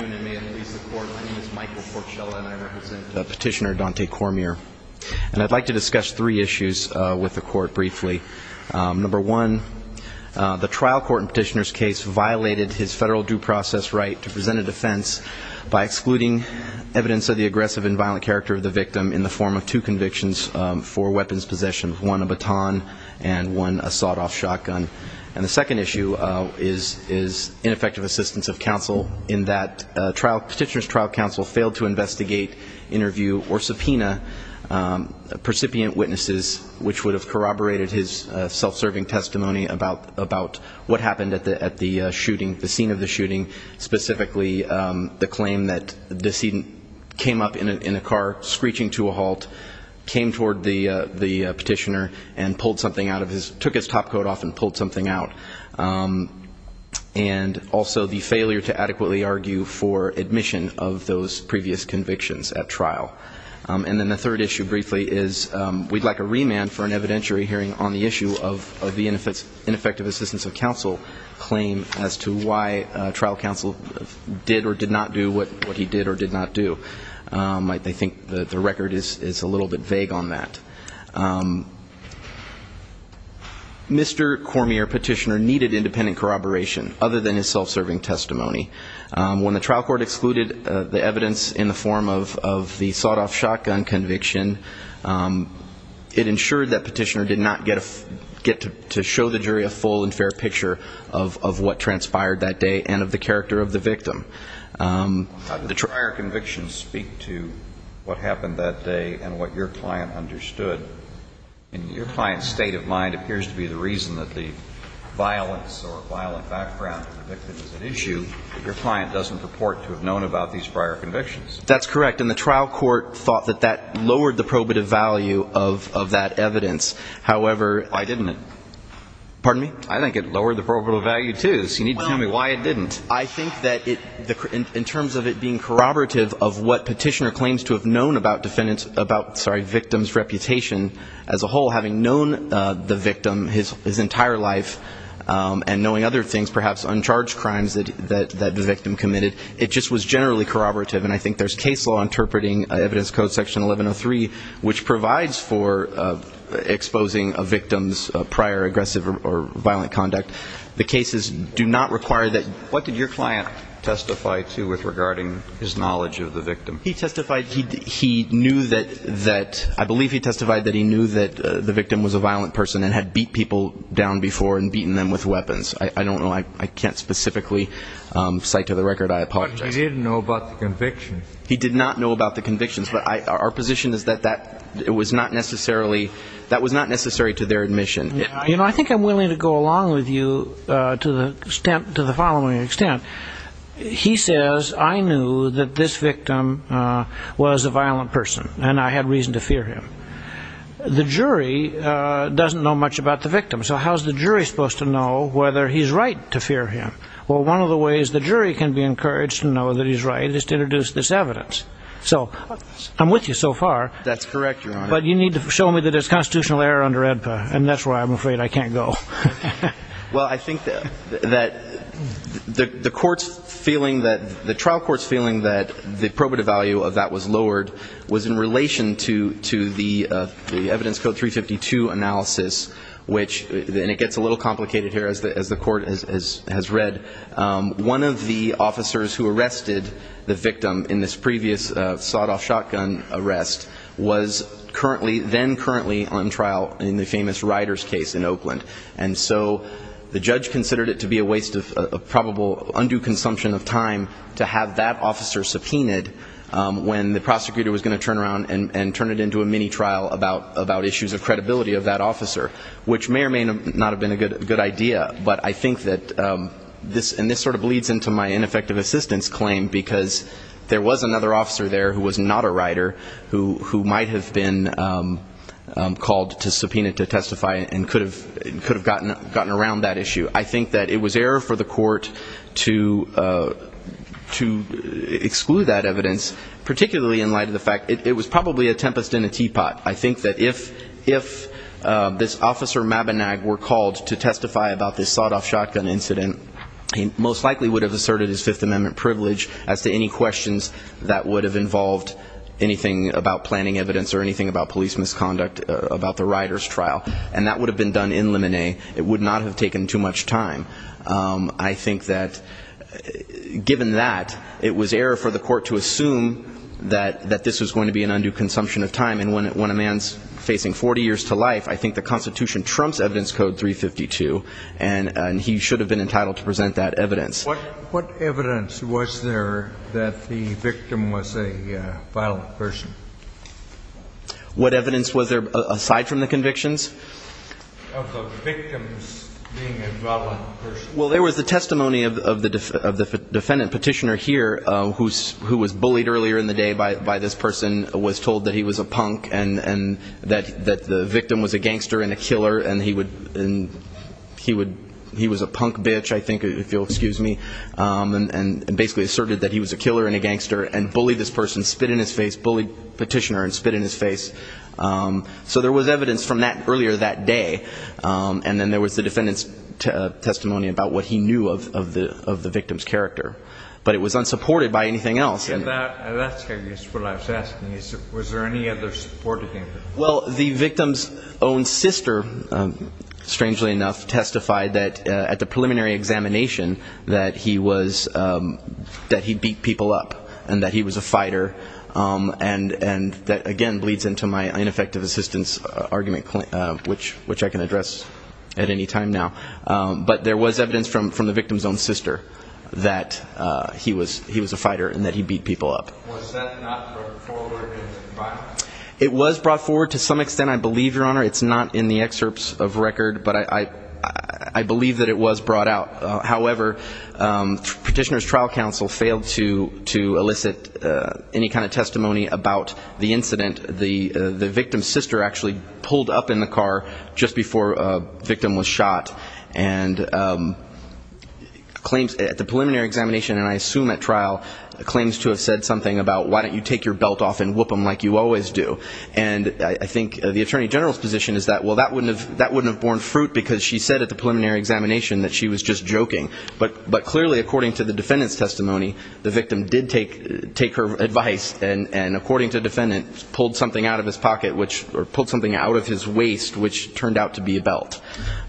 1. The trial court in Petitioner's case violated his federal due process right to present a defense by excluding evidence of the aggressive and violent character of the victim in the form of two convictions for weapons possession, one a baton and one a sawed-off shotgun. And the second issue is ineffective assistance of counsel in that Petitioner's trial counsel failed to investigate, interview, or subpoena percipient witnesses which would have corroborated his self-serving testimony about what happened at the shooting, the scene of the shooting, specifically the claim that the decedent came up in a car screeching to a halt, came toward the Petitioner, and pulled something out of his, took his topcoat off and pulled something out of his jacket. And also the failure to adequately argue for admission of those previous convictions at trial. And then the third issue briefly is we'd like a remand for an evidentiary hearing on the issue of the ineffective assistance of counsel claim as to why trial counsel did or did not do what he did or did not do. I think the record is a little bit vague on that. Mr. Cormier, Petitioner, needed independent corroboration other than his self-serving testimony. When the trial court excluded the evidence in the form of the sawed-off shotgun conviction, it ensured that Petitioner did not get to show the jury a full and fair picture of what transpired that day and of the character of the victim. The prior convictions speak to what happened that day and what your client understood. And your client's state of mind appears to be the reason that the violence or violent background of the victim is an issue. But your client doesn't purport to have known about these prior convictions. That's correct. And the trial court thought that that lowered the probative value of that evidence. However... Why didn't it? Pardon me? I think it lowered the probative value, too. So you need to tell me why it didn't. I think that in terms of it being corroborative of what Petitioner claims to have known about victim's reputation as a whole, having known the victim his entire life and knowing other things, perhaps uncharged crimes that the victim committed, it just was generally corroborative. And I think there's case law interpreting evidence code section 1103, which provides for exposing a victim's prior aggressive or violent conduct. The cases do not require that. What did your client testify to regarding his knowledge of the victim? He testified he knew that the victim was a violent person and had beat people down before and beaten them with weapons. I don't know. I can't specifically cite to the record. I apologize. But he didn't know about the convictions. He did not know about the convictions. But our position is that that was not necessary to their admission. You know, I think I'm willing to go along with you to the following extent. He says I knew that this victim was a violent person and I had reason to fear him. The jury doesn't know much about the victim. So how is the jury supposed to know whether he's right to fear him? Well, one of the ways the jury can be encouraged to know that he's right is to introduce this evidence. So I'm with you so far. That's correct, Your Honor. But you need to show me that there's constitutional error under AEDPA, and that's why I'm afraid I can't go. Well, I think that the trial court's feeling that the probative value of that was lowered was in relation to the evidence code 352 analysis, which it gets a little complicated here as the court has read. One of the officers who arrested the victim in this previous sawed-off shotgun arrest was currently, then currently on trial in the famous Ryder's case in Oakland. And so the judge considered it to be a waste of probable undue consumption of time to have that officer subpoenaed when the prosecutor was going to turn around and turn it into a mini trial about issues of credibility of that officer, which may or may not have been a good idea. But I think that this sort of bleeds into my ineffective assistance claim, because there was another officer there who was not a Ryder who might have been called to subpoena to testify and could have gotten around that issue. I think that it was error for the court to exclude that evidence, particularly in light of the fact it was probably a tempest in a teapot. I think that if this officer Mabinag were called to testify about this sawed-off shotgun incident, he most likely would have asserted his Fifth Amendment privilege as to any questions that would have involved anything about planning evidence or anything about police misconduct about the Ryder's trial. And that would have been done in limine. It would not have taken too much time. I think that given that, it was error for the court to assume that this was going to be an undue consumption of time. And when a man's facing 40 years to life, I think the Constitution trumps Evidence Code 352, and he should have been entitled to present that evidence. What evidence was there that the victim was a violent person? What evidence was there aside from the convictions? Of the victims being a violent person. Well, there was the testimony of the defendant petitioner here, who was bullied earlier in the day by this person, was told that he was a punk, and that the victim was a gangster and a killer, and he was a punk bitch, I think, if you'll excuse me, and basically asserted that he was a killer and a gangster, and bullied this person, spit in his face, bullied petitioner and spit in his face. So there was evidence from that earlier that day. And then there was the defendant's testimony about what he knew of the victim's character. But it was unsupported by anything else. And that's, I guess, what I was asking. Was there any other supporting evidence? Well, the victim's own sister, strangely enough, testified that at the preliminary examination, that he beat people up and that he was a fighter. And that, again, bleeds into my ineffective assistance argument, which I can address at any time now. But there was evidence from the victim's own sister that he was a fighter and that he beat people up. Was that not brought forward in the final? It was brought forward to some extent, I believe, Your Honor. It's not in the excerpts of record, but I believe that it was brought out. However, Petitioner's Trial Counsel failed to elicit any kind of testimony about the incident. The victim's sister actually pulled up in the car just before the victim was shot and at the preliminary examination, and I assume at trial, claims to have said something about, why don't you take your belt off and whoop them like you always do. And I think the Attorney General's position is that, well, that wouldn't have borne fruit because she said at the preliminary examination that she was just joking. But clearly, according to the defendant's testimony, the victim did take her advice and, according to the defendant, pulled something out of his pocket, or pulled something out of his waist, which turned out to be a belt.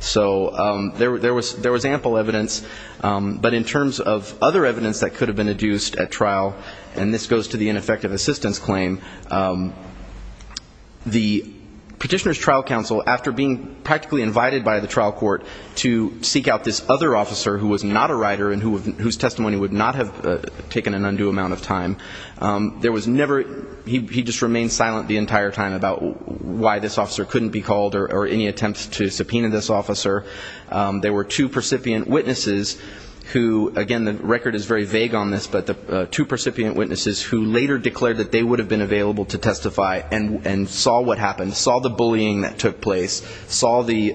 So there was ample evidence. But in terms of other evidence that could have been adduced at trial, and this goes to the ineffective assistance claim, the Petitioner's Trial Counsel, after being practically invited by the trial court to seek out this other officer who was not a writer and whose testimony would not have taken an undue amount of time, he just remained silent the entire time about why this officer couldn't be called or any attempts to subpoena this officer. There were two percipient witnesses who, again, the record is very vague on this, but the two percipient witnesses who later declared that they would have been available to testify and saw what happened, saw the bullying that took place, saw the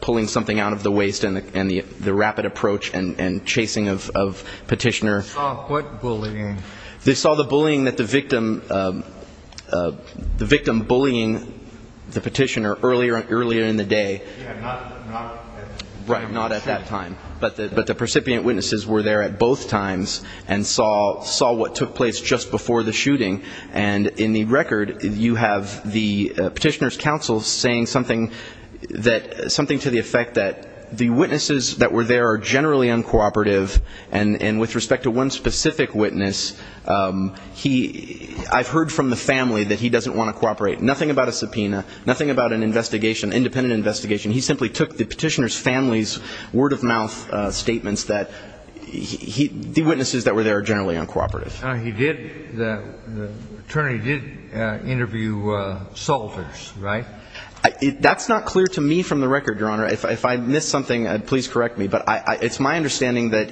pulling something out of the waist and the rapid approach and chasing of Petitioner. Saw what bullying? They saw the bullying that the victim, the victim bullying the Petitioner earlier in the day. Yeah, not at that time. Right, not at that time. But the percipient witnesses were there at both times and saw what took place just before the shooting. And in the record, you have the Petitioner's counsel saying something that, something to the effect that the witnesses that were there are generally uncooperative and with respect to one specific witness, he, I've heard from the family that he doesn't want to cooperate. Nothing about a subpoena, nothing about an investigation, independent investigation. He simply took the Petitioner's family's word-of-mouth statements that he, the witnesses that were there are generally uncooperative. He did, the attorney did interview Salters, right? That's not clear to me from the record, Your Honor. If I missed something, please correct me. But it's my understanding that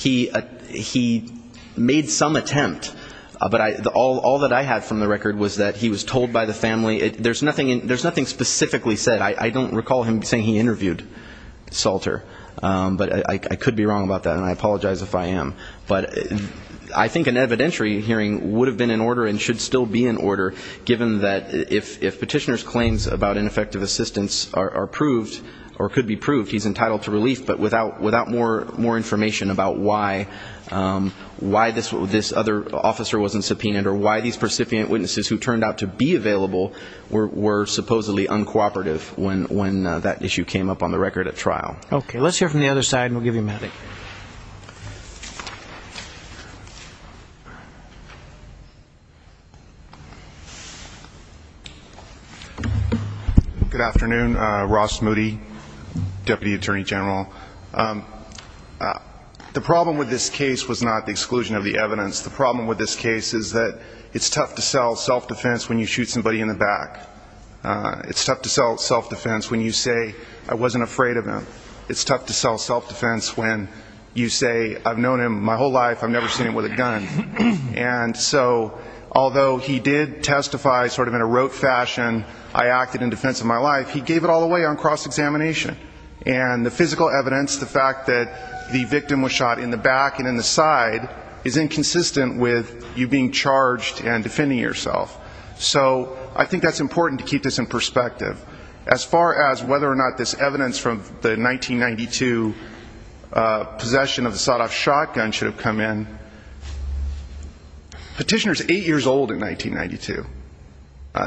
he made some attempt. But all that I had from the record was that he was told by the family. There's nothing specifically said. I don't recall him saying he interviewed Salter. But I could be wrong about that, and I apologize if I am. But I think an evidentiary hearing would have been in order and should still be in order, given that if Petitioner's claims about ineffective assistance are proved or could be proved, he's entitled to relief. But without more information about why this other officer wasn't subpoenaed or why these precipient witnesses who turned out to be available were supposedly uncooperative when that issue came up on the record at trial. Okay, let's hear from the other side, and we'll give you a minute. Good afternoon. Ross Moody, Deputy Attorney General. The problem with this case was not the exclusion of the evidence. The problem with this case is that it's tough to sell self-defense when you shoot somebody in the back. It's tough to sell self-defense when you say, I wasn't afraid of him. It's tough to sell self-defense when you say, I've known him my whole life. I've never seen him with a gun. And so although he did testify sort of in a rote fashion, I acted in defense of my life, he gave it all away on cross-examination. And the physical evidence, the fact that the victim was shot in the back and in the side, is inconsistent with you being charged and defending yourself. So I think that's important to keep this in perspective. As far as whether or not this evidence from the 1992 possession of the sawed-off shotgun should have come in, petitioner is eight years old in 1992.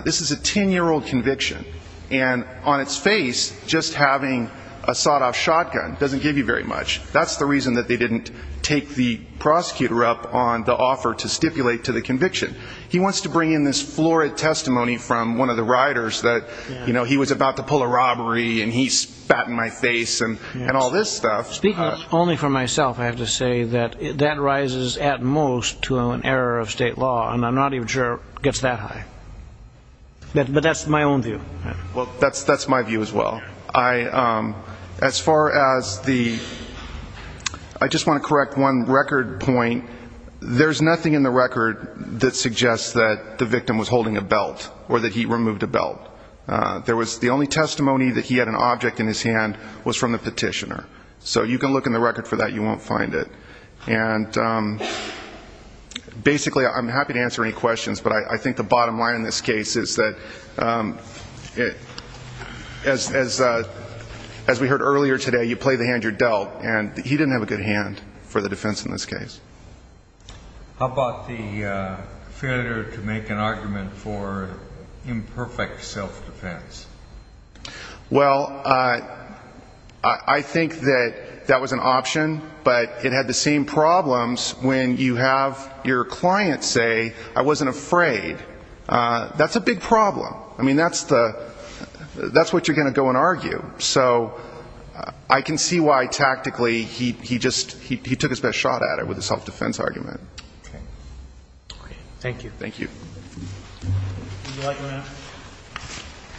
This is a 10-year-old conviction, and on its face, just having a sawed-off shotgun doesn't give you very much. That's the reason that they didn't take the prosecutor up on the offer to stipulate to the conviction. He wants to bring in this florid testimony from one of the riders that he was about to pull a robbery and he spat in my face and all this stuff. Speaking only for myself, I have to say that that rises at most to an error of state law, and I'm not even sure it gets that high. But that's my own view. Well, that's my view as well. As far as the ñ I just want to correct one record point. There's nothing in the record that suggests that the victim was holding a belt or that he removed a belt. The only testimony that he had an object in his hand was from the petitioner. So you can look in the record for that. You won't find it. And basically, I'm happy to answer any questions, but I think the bottom line in this case is that, as we heard earlier today, you play the hand you're dealt. And he didn't have a good hand for the defense in this case. How about the failure to make an argument for imperfect self-defense? Well, I think that that was an option, but it had the same problems when you have your client say, I wasn't afraid. That's a big problem. I mean, that's what you're going to go and argue. So I can see why, tactically, he took his best shot at it with the self-defense argument. Okay. Thank you. Thank you. Would you like to answer?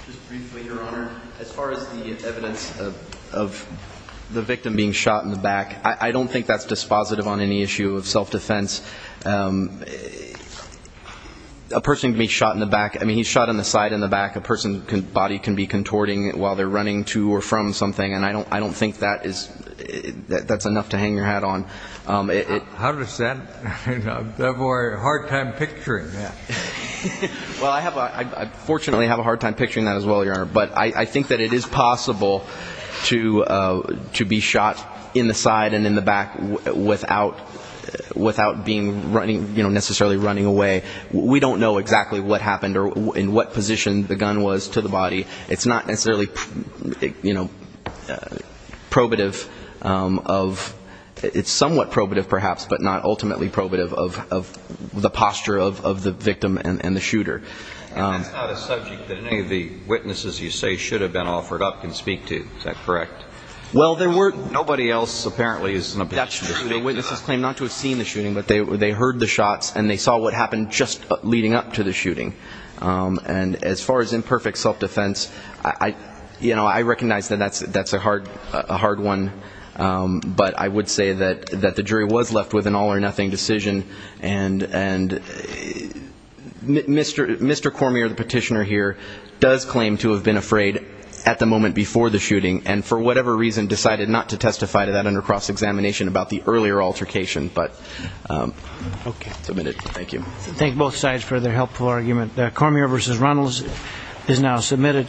Just briefly, Your Honor. As far as the evidence of the victim being shot in the back, I don't think that's dispositive on any issue of self-defense. A person can be shot in the back. I mean, he's shot on the side, in the back. A person's body can be contorting while they're running to or from something, and I don't think that's enough to hang your hat on. How does that? I have a hard time picturing that. Well, I fortunately have a hard time picturing that as well, Your Honor. But I think that it is possible to be shot in the side and in the back without necessarily running away. We don't know exactly what happened or in what position the gun was to the body. It's not necessarily probative of – And that's not a subject that any of the witnesses you say should have been offered up can speak to. Is that correct? Well, there weren't. Nobody else apparently is in a position to speak to that. That's true. The witnesses claim not to have seen the shooting, but they heard the shots and they saw what happened just leading up to the shooting. And as far as imperfect self-defense, I recognize that that's a hard one, but I would say that the jury was left with an all-or-nothing decision, and Mr. Cormier, the petitioner here, does claim to have been afraid at the moment before the shooting and for whatever reason decided not to testify to that under cross-examination about the earlier altercation. But submitted. Thank you. Thank both sides for their helpful argument. Cormier v. Runnels is now submitted.